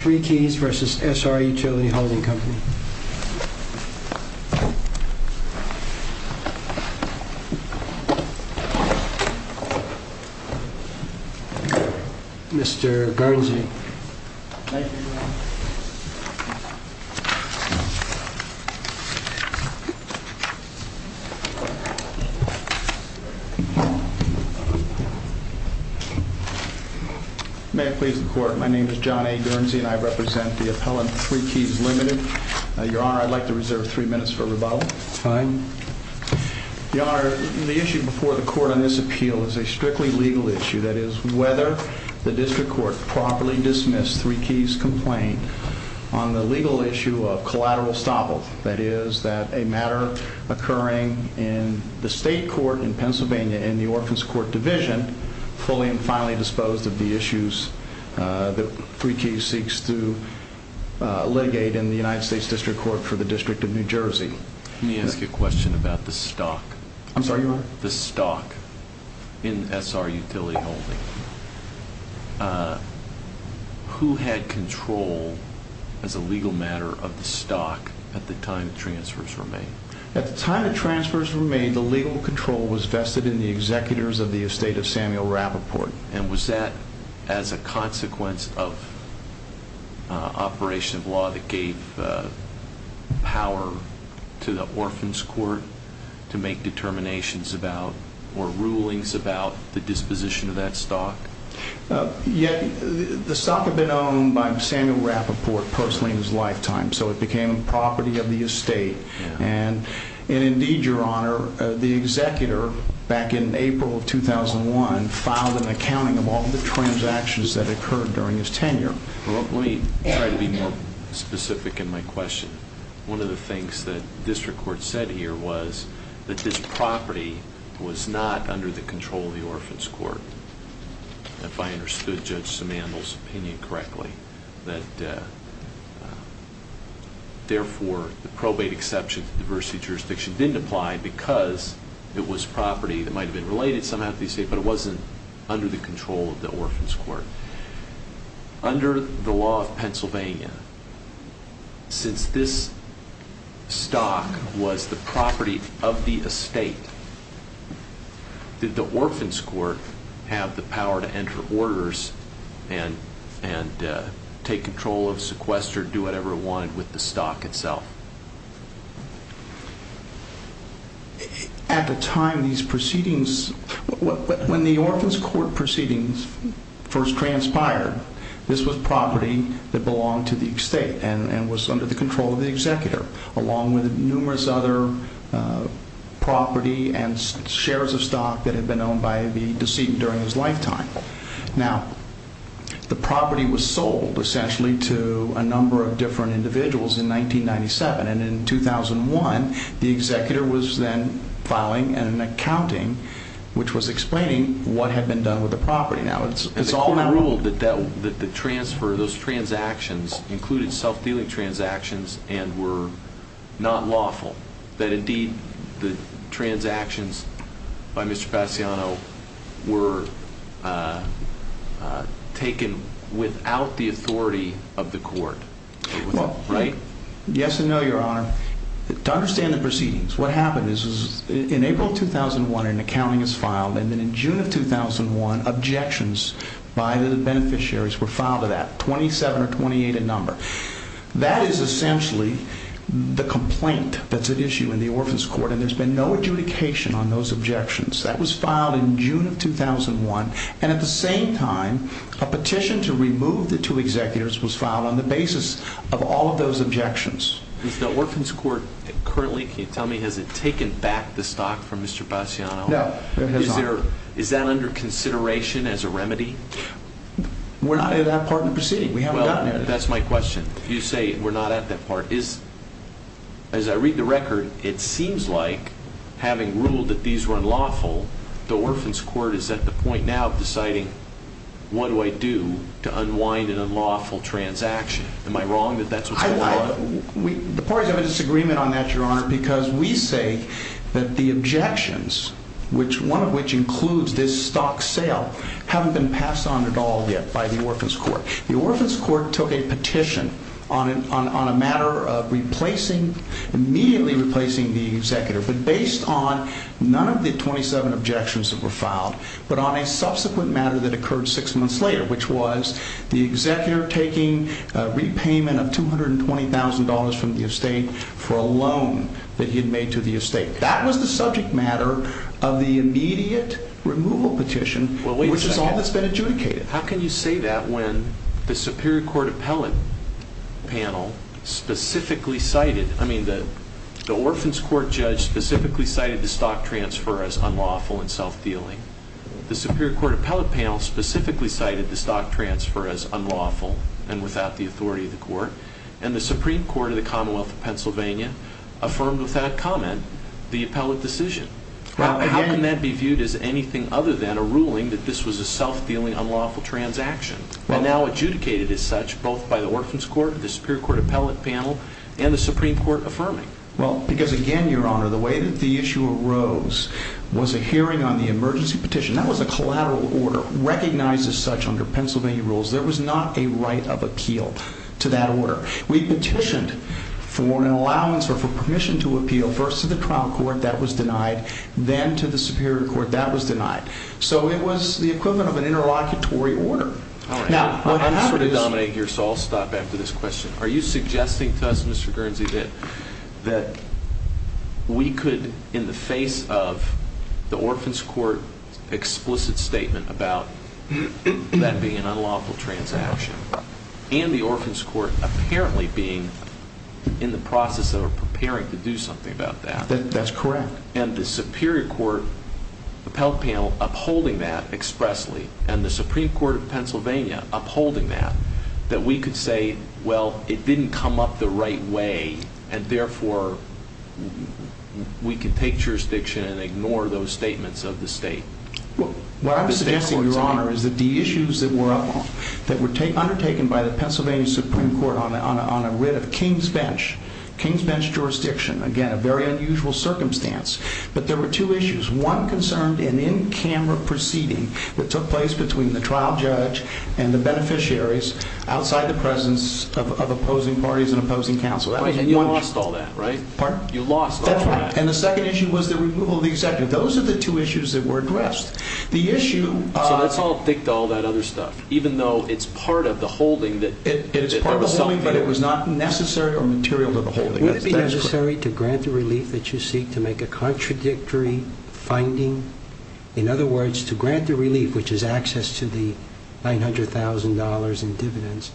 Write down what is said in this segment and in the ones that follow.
3 Keys v. SRUtility Holding Company Mr. Guernsey John A. Guernsey Who had control as a legal matter of the stock at the time transfers were made? The legal control was vested in the executors of the estate of Samuel Rappaport. Was that as a consequence of operation of law that gave power to the Orphan's Court to make determinations about or rulings about the disposition of that stock? Yet the stock had been owned by Samuel Rappaport personally in his lifetime, so it became property of the estate. And indeed, Your Honor, the executor, back in April of 2001, filed an accounting of all the transactions that occurred during his tenure. Let me try to be more specific in my question. One of the things that the district court said here was that this property was not under the control of the Orphan's Court, if I understood Judge Simandl's opinion correctly. That, therefore, the probate exception to the diversity jurisdiction didn't apply because it was property that might have been related somehow to the estate, but it wasn't under the control of the Orphan's Court. Under the law of Pennsylvania, since this stock was the property of the estate, did the Orphan's Court have the power to enter orders and take control of, sequester, do whatever it wanted with the stock itself? At the time these proceedings, when the Orphan's Court proceedings first transpired, this was property that belonged to the estate and was under the control of the executor, along with numerous other property and shares of stock that had been owned by the decedent during his lifetime. Now, the property was sold, essentially, to a number of different individuals in 1997, and in 2001, the executor was then filing an accounting which was explaining what had been done with the property. Now, it's common rule that the transfer, those transactions, included self-dealing transactions and were not lawful, that, indeed, the transactions by Mr. Passiano were taken without the authority of the court, right? Yes and no, Your Honor. To understand the proceedings, what happened is, in April 2001, an accounting is filed, and then in June of 2001, objections by the beneficiaries were filed to that, 27 or 28 in number. That is essentially the complaint that's at issue in the Orphan's Court, and there's been no adjudication on those objections. That was filed in June of 2001, and at the same time, a petition to remove the two executors was filed on the basis of all of those objections. Is the Orphan's Court currently, can you tell me, has it taken back the stock from Mr. Passiano? No, it has not. Is that under consideration as a remedy? We're not in that part of the proceeding. We haven't gotten there yet. If you say we're not at that part, as I read the record, it seems like, having ruled that these were unlawful, the Orphan's Court is at the point now of deciding, what do I do to unwind an unlawful transaction? Am I wrong that that's what's going on? The parties have a disagreement on that, Your Honor, because we say that the objections, one of which includes this stock sale, haven't been passed on at all yet by the Orphan's Court. The Orphan's Court took a petition on a matter of immediately replacing the executor, but based on none of the 27 objections that were filed, but on a subsequent matter that occurred six months later, which was the executor taking a repayment of $220,000 from the estate for a loan that he had made to the estate. That was the subject matter of the immediate removal petition, which is all that's been adjudicated. How can you say that when the Superior Court appellate panel specifically cited, I mean, the Orphan's Court judge specifically cited the stock transfer as unlawful and self-dealing. The Superior Court appellate panel specifically cited the stock transfer as unlawful and without the authority of the court, and the Supreme Court of the Commonwealth of Pennsylvania affirmed with that comment the appellate decision. How can that be viewed as anything other than a ruling that this was a self-dealing unlawful transaction, and now adjudicated as such both by the Orphan's Court, the Superior Court appellate panel, and the Supreme Court affirming? Well, because again, Your Honor, the way that the issue arose was a hearing on the emergency petition. That was a collateral order recognized as such under Pennsylvania rules. There was not a right of appeal to that order. We petitioned for an allowance or for permission to appeal first to the trial court. That was denied. Then to the Superior Court. That was denied. So it was the equivalent of an interlocutory order. I'm sort of dominating here, so I'll stop after this question. Are you suggesting to us, Mr. Guernsey, that we could, in the face of the Orphan's Court explicit statement about that being an unlawful transaction, and the Orphan's Court apparently being in the process of preparing to do something about that- That's correct. And the Superior Court appellate panel upholding that expressly, and the Supreme Court of Pennsylvania upholding that, that we could say, well, it didn't come up the right way, and therefore we can take jurisdiction and ignore those statements of the state? What I'm suggesting, Your Honor, is that the issues that were undertaken by the Pennsylvania Supreme Court on a writ of King's bench, King's bench jurisdiction, again, a very unusual circumstance, but there were two issues. One concerned an in-camera proceeding that took place between the trial judge and the beneficiaries outside the presence of opposing parties and opposing counsel. And you lost all that, right? Pardon? You lost all that. That's right. And the second issue was the removal of the executive. Those are the two issues that were addressed. The issue- So let's all think all that other stuff, even though it's part of the holding that- It is part of the holding, but it was not necessary or material to the holding. Would it be necessary to grant the relief that you seek to make a contradictory finding? In other words, to grant the relief, which is access to the $900,000 in dividends,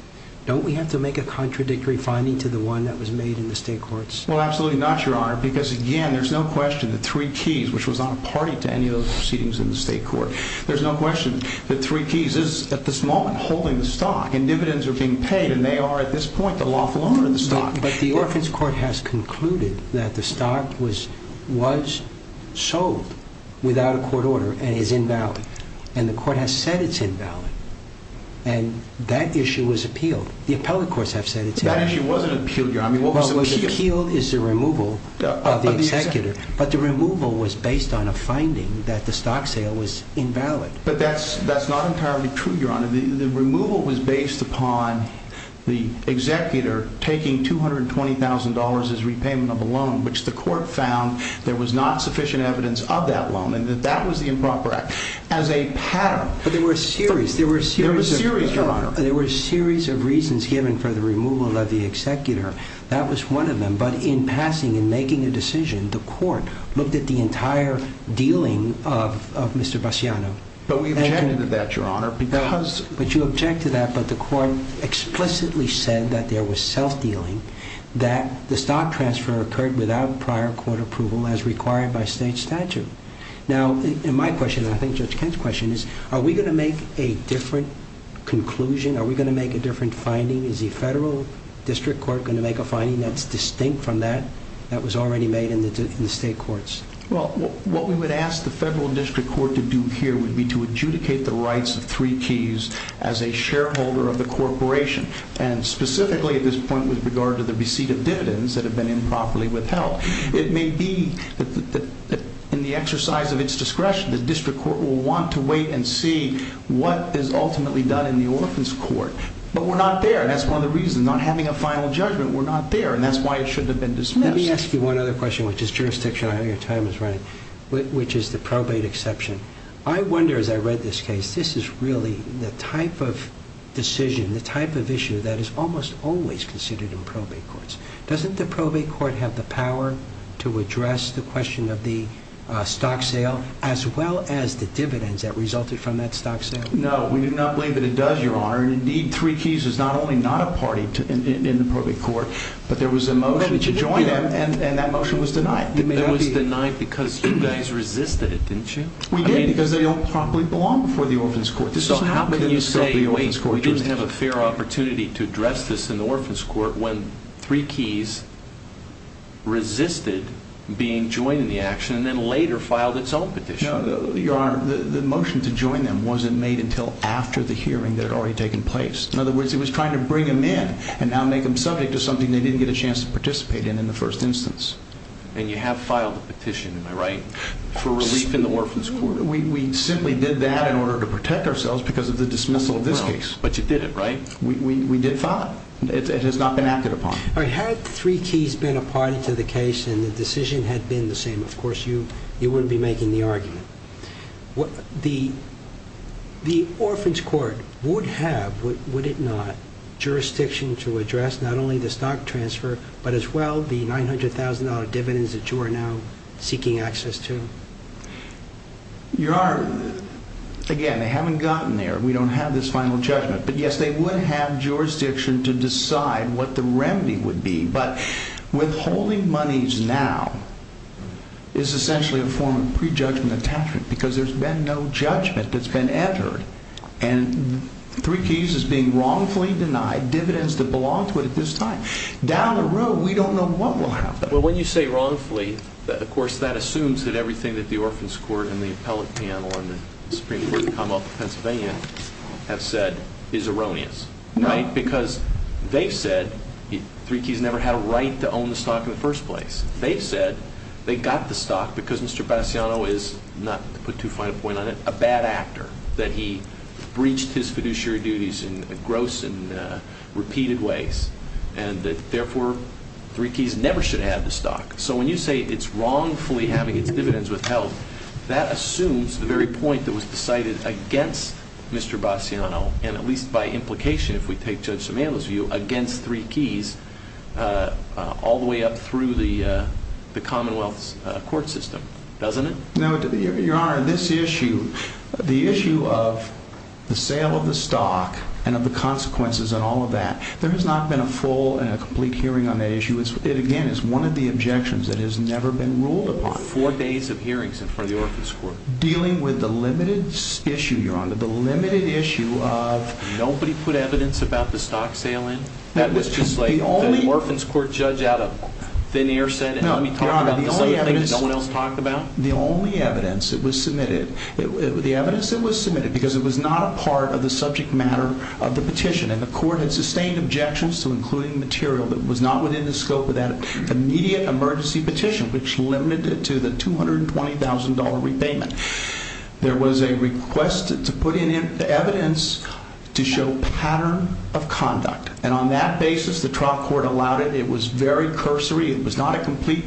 don't we have to make a contradictory finding to the one that was made in the state courts? Well, absolutely not, Your Honor, because, again, there's no question that Three Keys, which was not a party to any of those proceedings in the state court, there's no question that Three Keys is, at this moment, holding the stock, and dividends are being paid, and they are, at this point, the lawful owner of the stock. But the Orphan's Court has concluded that the stock was sold without a court order and is invalid, and the court has said it's invalid, and that issue was appealed. The appellate courts have said it's invalid. That issue wasn't appealed, Your Honor. I mean, what was appealed? What was appealed is the removal of the executor, but the removal was based on a finding that the stock sale was invalid. But that's not entirely true, Your Honor. The removal was based upon the executor taking $220,000 as repayment of a loan, which the court found there was not sufficient evidence of that loan, and that that was the improper act. As a pattern… But there were a series. There were a series. There were a series, Your Honor. That was one of them. But in passing, in making a decision, the court looked at the entire dealing of Mr. Bassiano. But we objected to that, Your Honor, because… But you objected to that, but the court explicitly said that there was self-dealing, that the stock transfer occurred without prior court approval as required by state statute. Now, my question, and I think Judge Kent's question, is are we going to make a different conclusion? Are we going to make a different finding? Is the federal district court going to make a finding that's distinct from that that was already made in the state courts? Well, what we would ask the federal district court to do here would be to adjudicate the rights of three keys as a shareholder of the corporation, and specifically at this point with regard to the receipt of dividends that have been improperly withheld. It may be that in the exercise of its discretion, the district court will want to wait and see what is ultimately done in the orphan's court. But we're not there, and that's one of the reasons, not having a final judgment. We're not there, and that's why it shouldn't have been dismissed. Let me ask you one other question, which is jurisdiction. I know your time is running, which is the probate exception. I wonder, as I read this case, this is really the type of decision, the type of issue that is almost always considered in probate courts. Doesn't the probate court have the power to address the question of the stock sale as well as the dividends that resulted from that stock sale? No, we do not believe that it does, Your Honor. Indeed, Three Keys is not only not a party in the probate court, but there was a motion to join them, and that motion was denied. It was denied because you guys resisted it, didn't you? We did, because they don't properly belong before the orphan's court. So how can you say, wait, we didn't have a fair opportunity to address this in the orphan's court when Three Keys resisted being joined in the action and then later filed its own petition? Your Honor, the motion to join them wasn't made until after the hearing that had already taken place. In other words, it was trying to bring them in and now make them subject to something they didn't get a chance to participate in in the first instance. And you have filed a petition, am I right, for relief in the orphan's court? We simply did that in order to protect ourselves because of the dismissal of this case. But you did it, right? We did file it. It has not been acted upon. Had Three Keys been a party to the case and the decision had been the same, of course you wouldn't be making the argument. The orphan's court would have, would it not, jurisdiction to address not only the stock transfer but as well the $900,000 dividends that you are now seeking access to? Your Honor, again, they haven't gotten there. We don't have this final judgment. But, yes, they would have jurisdiction to decide what the remedy would be. But withholding monies now is essentially a form of prejudgment attachment because there's been no judgment that's been entered. And Three Keys is being wrongfully denied dividends that belong to it at this time. Down the road, we don't know what will happen. Well, when you say wrongfully, of course that assumes that everything that the orphan's court and the appellate panel and the Supreme Court of Commonwealth of Pennsylvania have said is erroneous. Right? Because they've said Three Keys never had a right to own the stock in the first place. They've said they got the stock because Mr. Bassiano is, not to put too fine a point on it, a bad actor. That he breached his fiduciary duties in gross and repeated ways. And, therefore, Three Keys never should have the stock. So, when you say it's wrongfully having its dividends withheld, that assumes the very point that was decided against Mr. Bassiano. And, at least by implication, if we take Judge Sumano's view, against Three Keys all the way up through the Commonwealth's court system. Doesn't it? No, Your Honor. This issue, the issue of the sale of the stock and of the consequences and all of that. There has not been a full and a complete hearing on that issue. It, again, is one of the objections that has never been ruled upon. Four days of hearings in front of the orphan's court. Dealing with the limited issue, Your Honor, the limited issue of... Nobody put evidence about the stock sale in? That was just like the orphan's court judge out of thin air said. No, Your Honor. The only evidence... No one else talked about? The only evidence that was submitted... The evidence that was submitted... Because it was not a part of the subject matter of the petition. And the court had sustained objections to including material that was not within the scope of that immediate emergency petition. Which limited it to the $220,000 repayment. There was a request to put in evidence to show pattern of conduct. And, on that basis, the trial court allowed it. It was very cursory. It was not a complete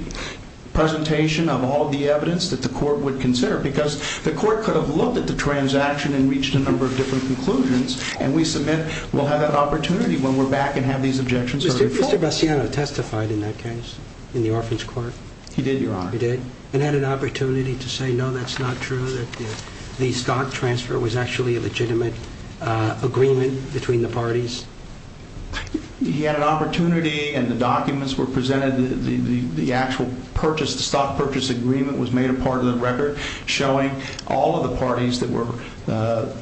presentation of all of the evidence that the court would consider. Because the court could have looked at the transaction and reached a number of different conclusions. And we submit we'll have that opportunity when we're back and have these objections heard in full. Did Mr. Bassiano testify in that case? In the orphan's court? He did, Your Honor. He did? And had an opportunity to say, no, that's not true. That the stock transfer was actually a legitimate agreement between the parties? He had an opportunity and the documents were presented. The actual stock purchase agreement was made a part of the record. Showing all of the parties that were the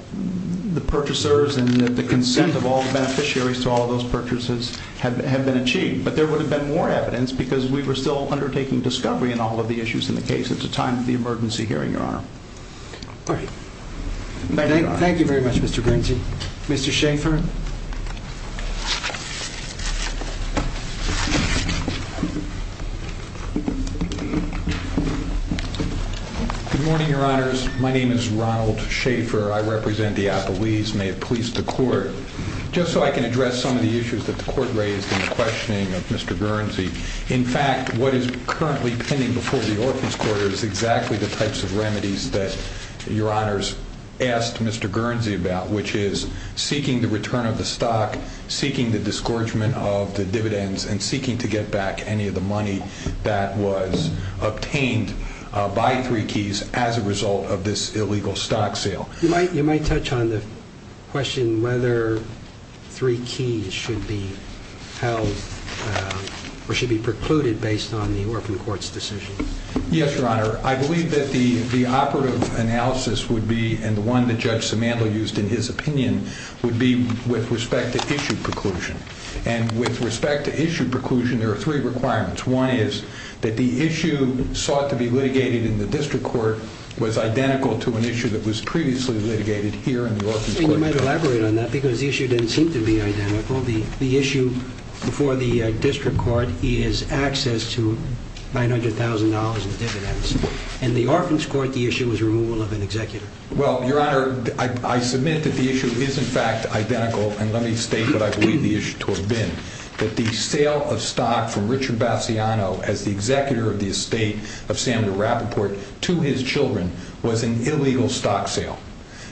purchasers and the consent of all the beneficiaries to all of those purchases had been achieved. But there would have been more evidence because we were still undertaking discovery in all of the issues in the case at the time of the emergency hearing, Your Honor. Thank you, Your Honor. Thank you very much, Mr. Grinzey. Mr. Schaffer? Good morning, Your Honors. My name is Ronald Schaffer. I represent the Appalese and may it please the court, just so I can address some of the issues that the court raised in the questioning of Mr. Grinzey. In fact, what is currently pending before the orphan's quarter is exactly the types of remedies that Your Honors asked Mr. Grinzey about, which is seeking the return of the stock, seeking the disgorgement of the dividends, and seeking to get back any of the money that was obtained by Three Keys as a result of this illegal stock sale. You might touch on the question whether Three Keys should be held or should be precluded based on the orphan court's decision. Yes, Your Honor. I believe that the operative analysis would be, and the one that Judge Simandl used in his opinion, would be with respect to issue preclusion. And with respect to issue preclusion, there are three requirements. One is that the issue sought to be litigated in the district court was identical to an issue that was previously litigated here in the orphan's court. And you might elaborate on that because the issue didn't seem to be identical. The issue before the district court is access to $900,000 in dividends. In the orphan's court, the issue was removal of an executor. Well, Your Honor, I submit that the issue is in fact identical, and let me state what I believe the issue to have been. That the sale of stock from Richard Bassiano as the executor of the estate of Samuel Rappaport to his children was an illegal stock sale.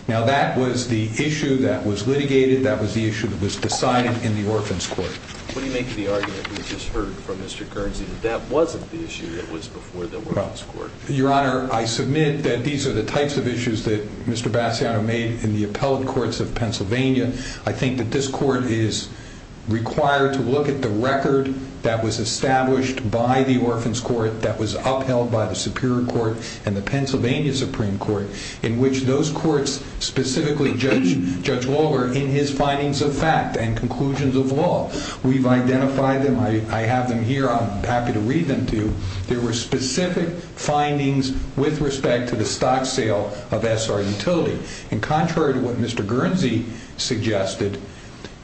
Now that was the issue that was litigated. That was the issue that was decided in the orphan's court. What do you make of the argument we just heard from Mr. Guernsey that that wasn't the issue that was before the orphan's court? Well, Your Honor, I submit that these are the types of issues that Mr. Bassiano made in the appellate courts of Pennsylvania. I think that this court is required to look at the record that was established by the orphan's court, that was upheld by the Superior Court and the Pennsylvania Supreme Court, in which those courts specifically judge Lawler in his findings of fact and conclusions of law. We've identified them. I have them here. I'm happy to read them to you. There were specific findings with respect to the stock sale of SR Utility. And contrary to what Mr. Guernsey suggested,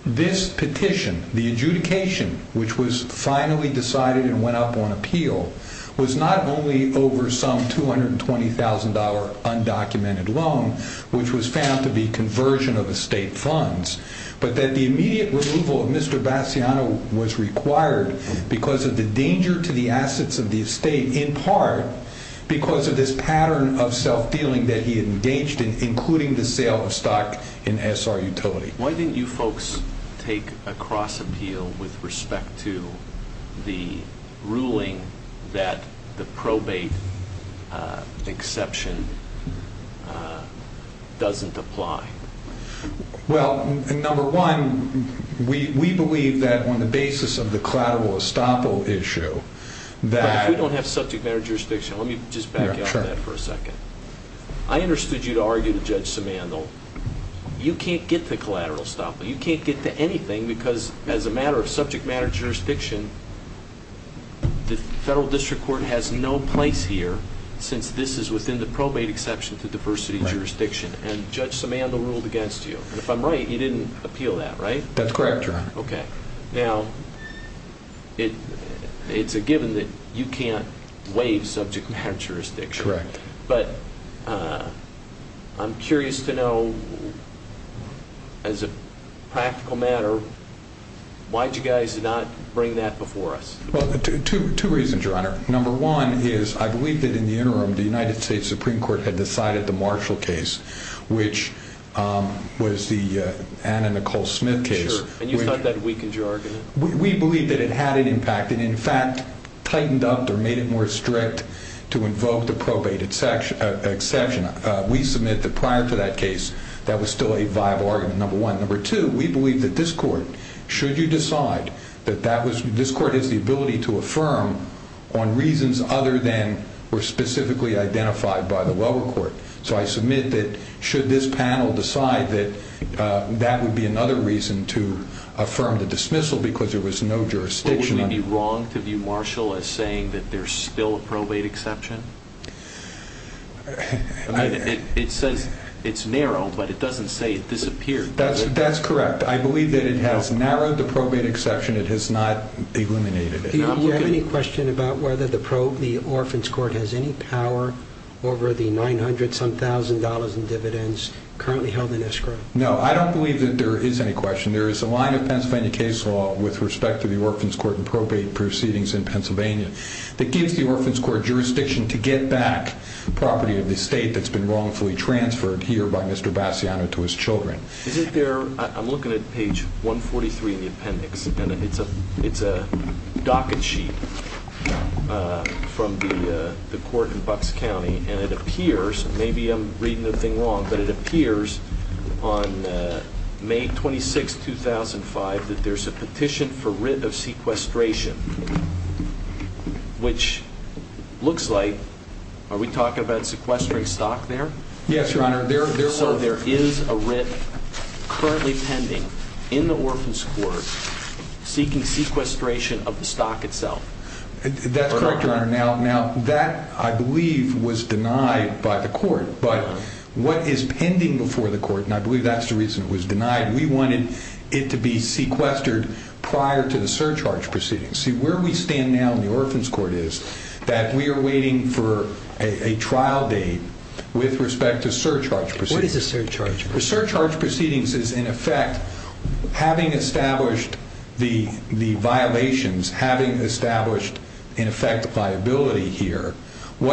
this petition, the adjudication, which was finally decided and went up on appeal, was not only over some $220,000 undocumented loan, which was found to be conversion of estate funds, but that the immediate removal of Mr. Bassiano was required because of the danger to the assets of the estate, in part because of this pattern of self-dealing that he had engaged in, including the sale of stock in SR Utility. Why didn't you folks take a cross-appeal with respect to the ruling that the probate exception doesn't apply? Well, number one, we believe that on the basis of the collateral estoppel issue that... On the subject matter of jurisdiction, let me just back out on that for a second. I understood you to argue to Judge Simandl, you can't get to collateral estoppel. You can't get to anything because, as a matter of subject matter of jurisdiction, the Federal District Court has no place here since this is within the probate exception to diversity jurisdiction, and Judge Simandl ruled against you. And if I'm right, he didn't appeal that, right? That's correct, Your Honor. Okay. Now, it's a given that you can't waive subject matter of jurisdiction. Correct. But I'm curious to know, as a practical matter, why did you guys not bring that before us? Well, two reasons, Your Honor. Number one is I believe that in the interim, the United States Supreme Court had decided the Marshall case, which was the Anna Nicole Smith case. And you thought that weakened your argument? We believed that it had an impact and, in fact, tightened up or made it more strict to invoke the probate exception. We submit that prior to that case, that was still a viable argument, number one. Number two, we believe that this Court, should you decide, that this Court has the ability to affirm on reasons other than were specifically identified by the lower court. So I submit that should this panel decide that that would be another reason to affirm the dismissal because there was no jurisdiction on it. But would we be wrong to view Marshall as saying that there's still a probate exception? It says it's narrow, but it doesn't say it disappeared. That's correct. I believe that it has narrowed the probate exception. It has not eliminated it. Do you have any question about whether the Orphan's Court has any power over the $900-some thousand in dividends currently held in escrow? No, I don't believe that there is any question. There is a line of Pennsylvania case law with respect to the Orphan's Court and probate proceedings in Pennsylvania that gives the Orphan's Court jurisdiction to get back property of the state that's been wrongfully transferred here by Mr. Bassiano to his children. I'm looking at page 143 in the appendix, and it's a docket sheet from the court in Bucks County, and it appears, maybe I'm reading the thing wrong, but it appears on May 26, 2005 that there's a petition for writ of sequestration, which looks like, are we talking about sequestering stock there? Yes, Your Honor. So there is a writ currently pending in the Orphan's Court seeking sequestration of the stock itself. That's correct, Your Honor. Now, that, I believe, was denied by the court, but what is pending before the court, and I believe that's the reason it was denied, we wanted it to be sequestered prior to the surcharge proceedings. See, where we stand now in the Orphan's Court is that we are waiting for a trial date with respect to surcharge proceedings. What is a surcharge? A surcharge proceedings is, in effect, having established the violations, having established, in effect, a viability here. On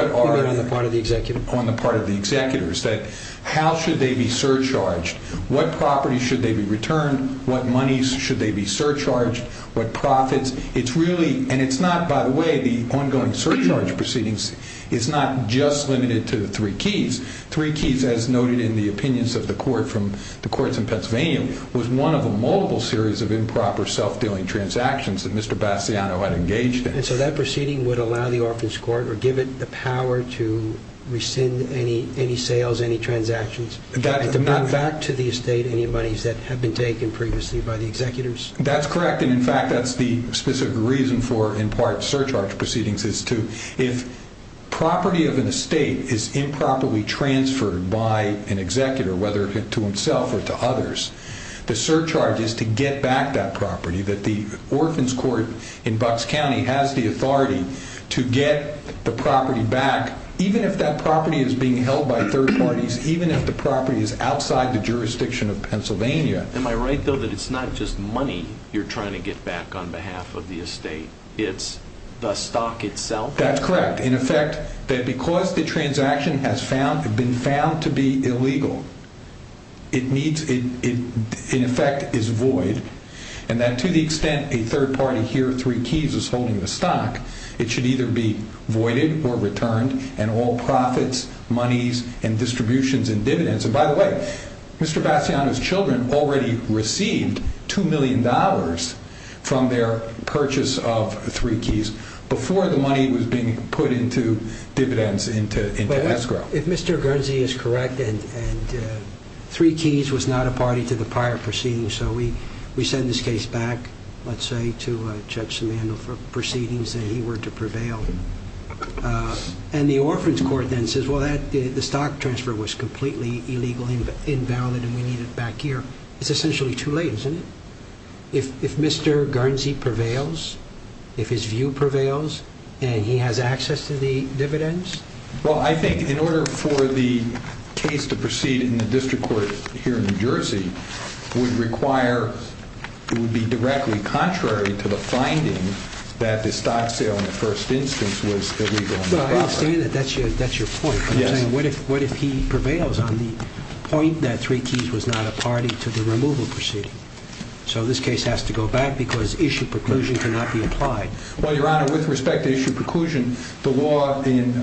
the part of the executor? On the part of the executors, that how should they be surcharged? What properties should they be returned? What monies should they be surcharged? What profits? It's really, and it's not, by the way, the ongoing surcharge proceedings is not just limited to the three keys. Three keys, as noted in the opinions of the court from the courts in Pennsylvania, was one of a multiple series of improper self-dealing transactions that Mr. Bassiano had engaged in. And so that proceeding would allow the Orphan's Court or give it the power to rescind any sales, any transactions, to bring back to the estate any monies that had been taken previously by the executors? That's correct. And, in fact, that's the specific reason for, in part, surcharge proceedings is to, if property of an estate is improperly transferred by an executor, whether to himself or to others, the surcharge is to get back that property, that the Orphan's Court in Bucks County has the authority to get the property back, even if that property is being held by third parties, even if the property is outside the jurisdiction of Pennsylvania. Am I right, though, that it's not just money you're trying to get back on behalf of the estate? It's the stock itself? That's correct. In effect, that because the transaction has been found to be illegal, it needs, in effect, is void, and that to the extent a third party here with three keys is holding the stock, it should either be voided or returned, and all profits, monies, and distributions and dividends. And, by the way, Mr. Bassiano's children already received $2 million from their purchase of three keys before the money was being put into dividends, into escrow. If Mr. Guernsey is correct, and three keys was not a party to the prior proceedings, so we send this case back, let's say, to Judge Simandl for proceedings that he were to prevail. And the Orphans Court then says, well, the stock transfer was completely illegal, invalid, and we need it back here. It's essentially too late, isn't it? If Mr. Guernsey prevails, if his view prevails, and he has access to the dividends? Well, I think in order for the case to proceed in the district court here in New Jersey, it would be directly contrary to the finding that the stock sale in the first instance was illegal. Well, I understand that that's your point. But I'm saying what if he prevails on the point that three keys was not a party to the removal proceeding? So this case has to go back because issue preclusion cannot be applied. Well, Your Honor, with respect to issue preclusion, the law in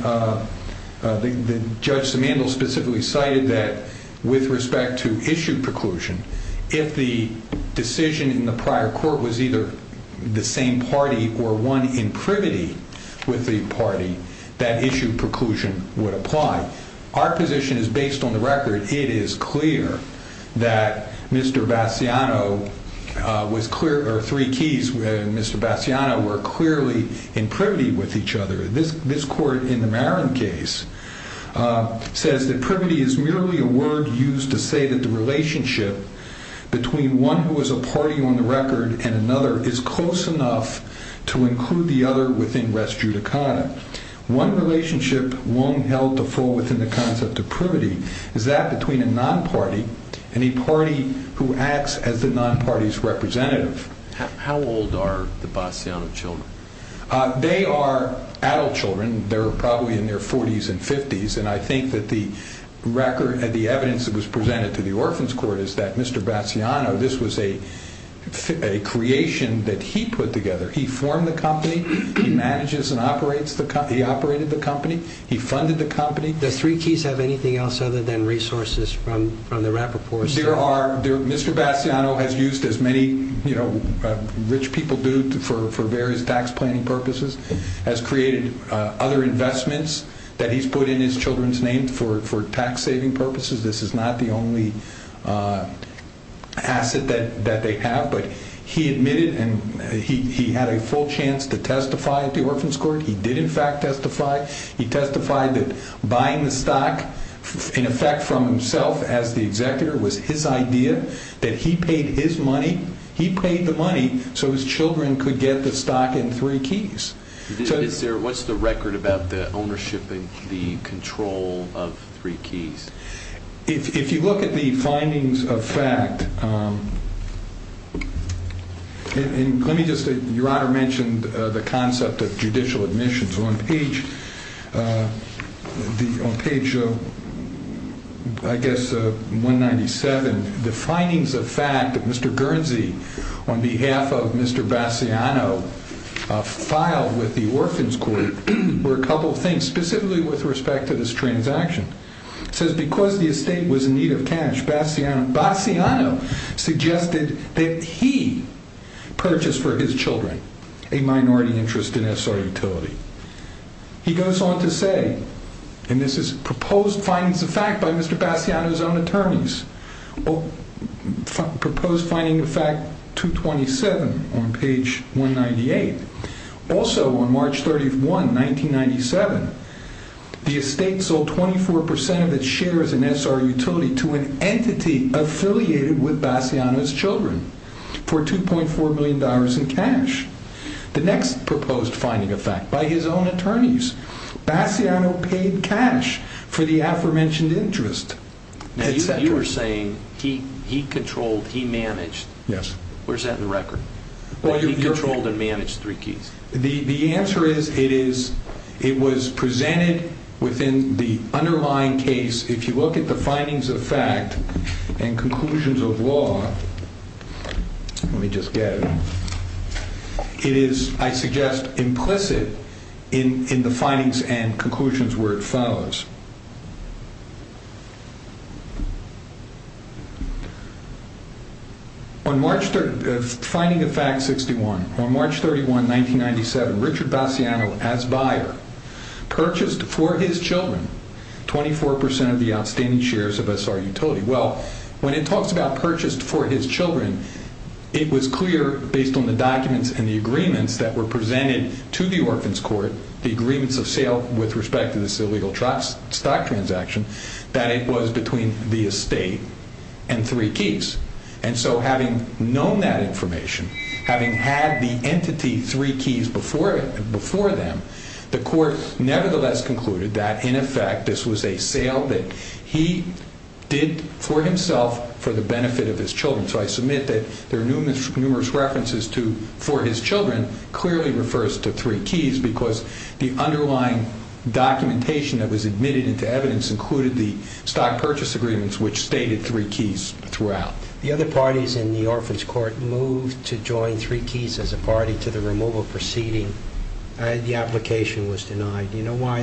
Judge Simandl specifically cited that with respect to issue preclusion, if the decision in the prior court was either the same party or one in privity with the party, that issue preclusion would apply. Our position is based on the record. It is clear that Mr. Bassiano was clear or three keys with Mr. Bassiano were clearly in privity with each other. This court in the Marin case says that privity is merely a word used to say that the relationship between one who is a party on the record and another is close enough to include the other within res judicata. One relationship Wong held to fall within the concept of privity is that between a non-party and a party who acts as the non-party's representative. How old are the Bassiano children? They are adult children. They're probably in their 40s and 50s. And I think that the record and the evidence that was presented to the Orphan's Court is that Mr. Bassiano, this was a creation that he put together. He formed the company. He manages and operates the company. He operated the company. He funded the company. Does three keys have anything else other than resources from the Rappaport? There are. Mr. Bassiano has used as many rich people do for various tax planning purposes, has created other investments that he's put in his children's name for tax saving purposes. This is not the only asset that they have. But he admitted and he had a full chance to testify at the Orphan's Court. He did, in fact, testify. He testified that buying the stock, in effect, from himself as the executor was his idea, that he paid his money. He paid the money so his children could get the stock in three keys. What's the record about the ownership and the control of three keys? If you look at the findings of fact, and let me just say, Your Honor mentioned the concept of judicial admissions. On page, on page I guess 197, the findings of fact that Mr. Guernsey, on behalf of Mr. Bassiano, filed with the Orphan's Court, were a couple of things, specifically with respect to this transaction. It says, because the estate was in need of cash, Bassiano suggested that he purchase for his children a minority interest in SR utility. He goes on to say, and this is proposed findings of fact by Mr. Bassiano's own attorneys, Proposed finding of fact 227 on page 198. Also, on March 31, 1997, the estate sold 24% of its share as an SR utility to an entity affiliated with Bassiano's children for $2.4 million in cash. The next proposed finding of fact, by his own attorneys, Bassiano paid cash for the aforementioned interest. Now, you were saying he controlled, he managed. Yes. Where's that in the record? He controlled and managed three keys. The answer is, it was presented within the underlying case. If you look at the findings of fact and conclusions of law, let me just get it. It is, I suggest, implicit in the findings and conclusions where it follows. On March, finding of fact 61, on March 31, 1997, Richard Bassiano, as buyer, purchased for his children 24% of the outstanding shares of SR utility. Well, when it talks about purchased for his children, it was clear, based on the documents and the agreements that were presented to the Orphan's Court, the agreements of sale with respect to this illegal stock transaction, that it was between the estate and three keys. And so, having known that information, having had the entity three keys before them, the court nevertheless concluded that, in effect, this was a sale that he did for himself for the benefit of his children. So, I submit that there are numerous references to, for his children, clearly refers to three keys, because the underlying documentation that was admitted into evidence included the stock purchase agreements, which stated three keys throughout. The other parties in the Orphan's Court moved to join three keys as a party to the removal proceeding. The application was denied. Do you know why?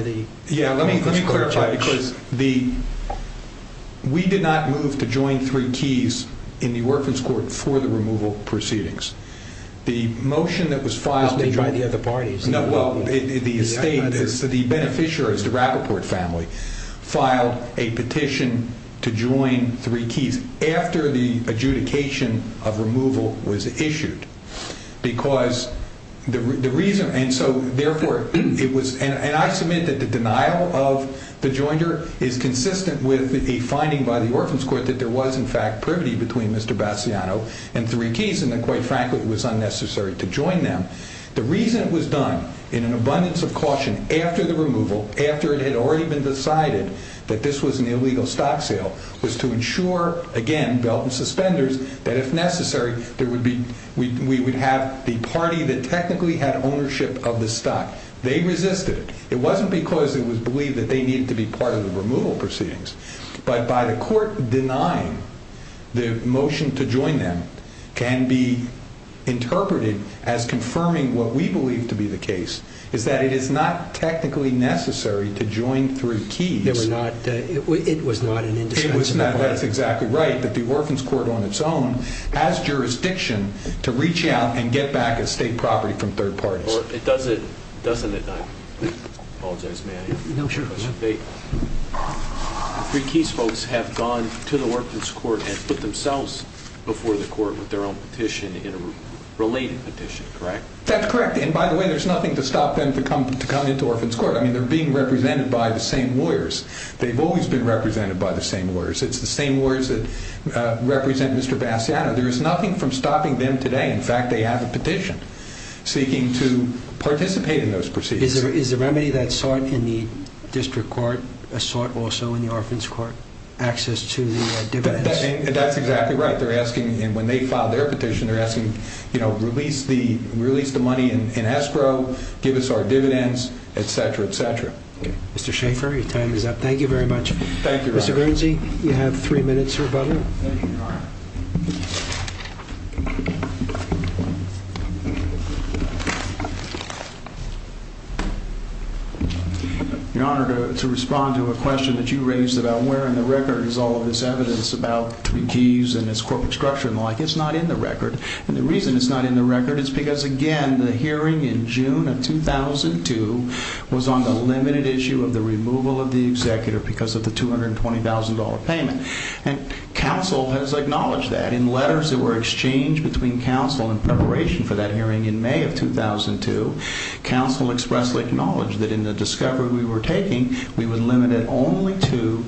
Yeah, let me clarify, because we did not move to join three keys in the Orphan's Court for the removal proceedings. The motion that was filed... Was made by the other parties. No, well, the beneficiaries, the Rappaport family, filed a petition to join three keys after the adjudication of removal was issued. Because the reason... And so, therefore, it was... And I submit that the denial of the joinder is consistent with a finding by the Orphan's Court that there was, in fact, privity between Mr. Bassiano and three keys, and that, quite frankly, it was unnecessary to join them. The reason it was done, in an abundance of caution, after the removal, after it had already been decided that this was an illegal stock sale, was to ensure, again, belt and suspenders, that if necessary, we would have the party that technically had ownership of the stock. They resisted it. It wasn't because it was believed that they needed to be part of the removal proceedings. But by the court denying, the motion to join them can be interpreted as confirming what we believe to be the case, is that it is not technically necessary to join three keys. They were not... It was not an indiscretion. It was not. That's exactly right. That the Orphan's Court, on its own, has jurisdiction to reach out and get back estate property from third parties. Well, it doesn't... Doesn't it not? Apologize, may I? No, sure. Three keys folks have gone to the Orphan's Court and put themselves before the court with their own petition, in a related petition, correct? That's correct. I mean, they're being represented by the same lawyers. They've always been represented by the same lawyers. It's the same lawyers that represent Mr. Bassiano. There is nothing from stopping them today. In fact, they have a petition, seeking to participate in those proceedings. Is the remedy that's sought in the district court, a sort also in the Orphan's Court? Access to the dividends? That's exactly right. They're asking, and when they file their petition, they're asking, you know, release the money in escrow, give us our dividends, etc. Mr. Schaefer, your time is up. Thank you very much. Thank you, Your Honor. Mr. Guernsey, you have three minutes for rebuttal. Thank you, Your Honor. Your Honor, to respond to a question that you raised about where in the record is all of this evidence about three keys and its corporate structure and the like, it's not in the record, and the reason it's not in the record is because, again, the hearing in June of 2002 was on the limited issue of the removal of the executor because of the $220,000 payment, and counsel has acknowledged that. In letters that were exchanged between counsel in preparation for that hearing in May of 2002, counsel expressly acknowledged that in the discovery we were taking, we were limited only to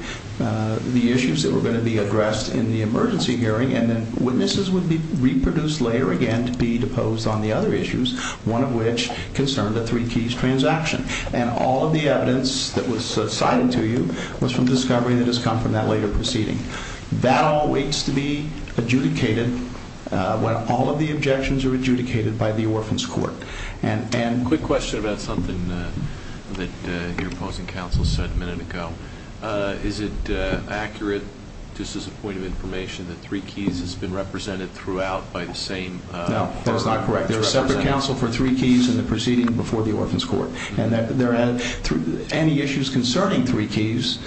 the issues that were going to be addressed in the emergency hearing, and then witnesses would be reproduced later again to be deposed on the other issues, one of which concerned the three keys transaction, and all of the evidence that was cited to you was from discovery that has come from that later proceeding. That all waits to be adjudicated when all of the objections are adjudicated by the Orphan's Court. Quick question about something that your opposing counsel said a minute ago. Is it accurate, just as a point of information, that three keys has been represented throughout by the same court? No, that is not correct. There is separate counsel for three keys in the proceeding before the Orphan's Court, and any issues concerning three keys,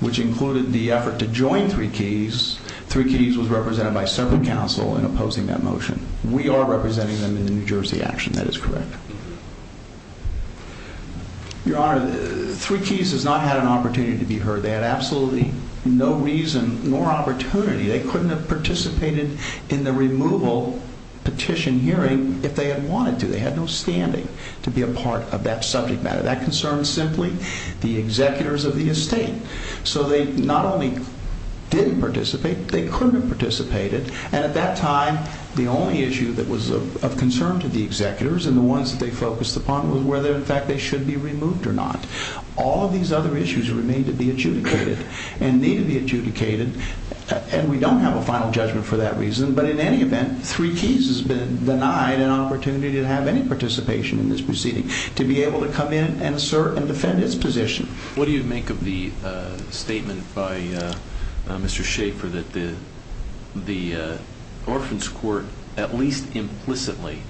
which included the effort to join three keys, three keys was represented by separate counsel in opposing that motion. We are representing them in the New Jersey action. That is correct. Your Honor, three keys has not had an opportunity to be heard. They had absolutely no reason nor opportunity. They couldn't have participated in the removal petition hearing if they had wanted to. They had no standing to be a part of that subject matter. That concerns simply the executors of the estate. So they not only didn't participate, they couldn't have participated, and at that time, the only issue that was of concern to the executors and the ones that they focused upon was whether, in fact, they should be removed or not. All of these other issues remain to be adjudicated and need to be adjudicated, and we don't have a final judgment for that reason, but in any event, three keys has been denied an opportunity to have any participation in this proceeding, to be able to come in and assert and defend its position. What do you make of the statement by Mr. Schaefer that the Orphans Court at least implicitly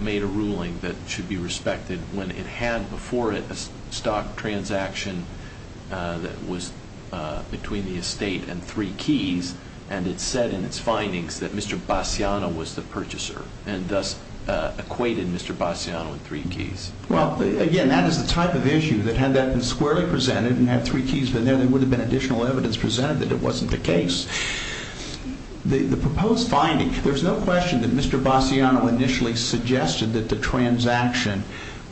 made a ruling that should be respected when it had before it a stock transaction that was between the estate and three keys, and it said in its findings that Mr. Bassiano was the purchaser and thus equated Mr. Bassiano with three keys? Well, again, that is the type of issue that had that been squarely presented and had three keys been there, there would have been additional evidence presented that it wasn't the case. The proposed finding, there's no question that Mr. Bassiano initially suggested that the transaction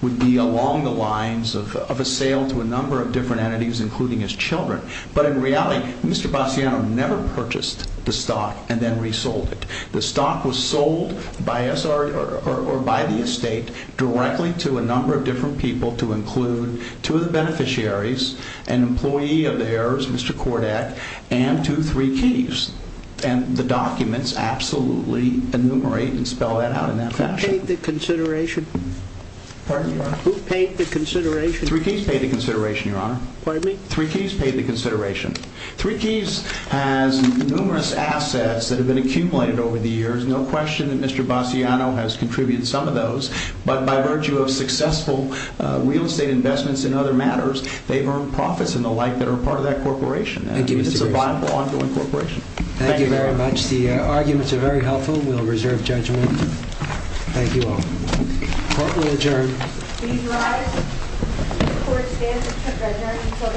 would be along the lines of a sale to a number of different entities, including his children, but in reality, Mr. Bassiano never purchased the stock and then resold it. The stock was sold by us or by the estate directly to a number of different people to include two of the beneficiaries, an employee of theirs, Mr. Kordek, and to three keys, and the documents absolutely enumerate and spell that out in that fashion. Who paid the consideration? Pardon me, Your Honor? Who paid the consideration? Three keys paid the consideration, Your Honor. Pardon me? Three keys paid the consideration. Three keys has numerous assets that have been accumulated over the years. No question that Mr. Bassiano has contributed some of those, but by virtue of successful real estate investments in other matters, they've earned profits and the like that are part of that corporation, and it's a viable ongoing corporation. Thank you, Your Honor. Thank you very much. The arguments are very helpful. We'll reserve judgment. Thank you all. Court will adjourn. Please rise. The court stands adjourned until this afternoon at 2 p.m.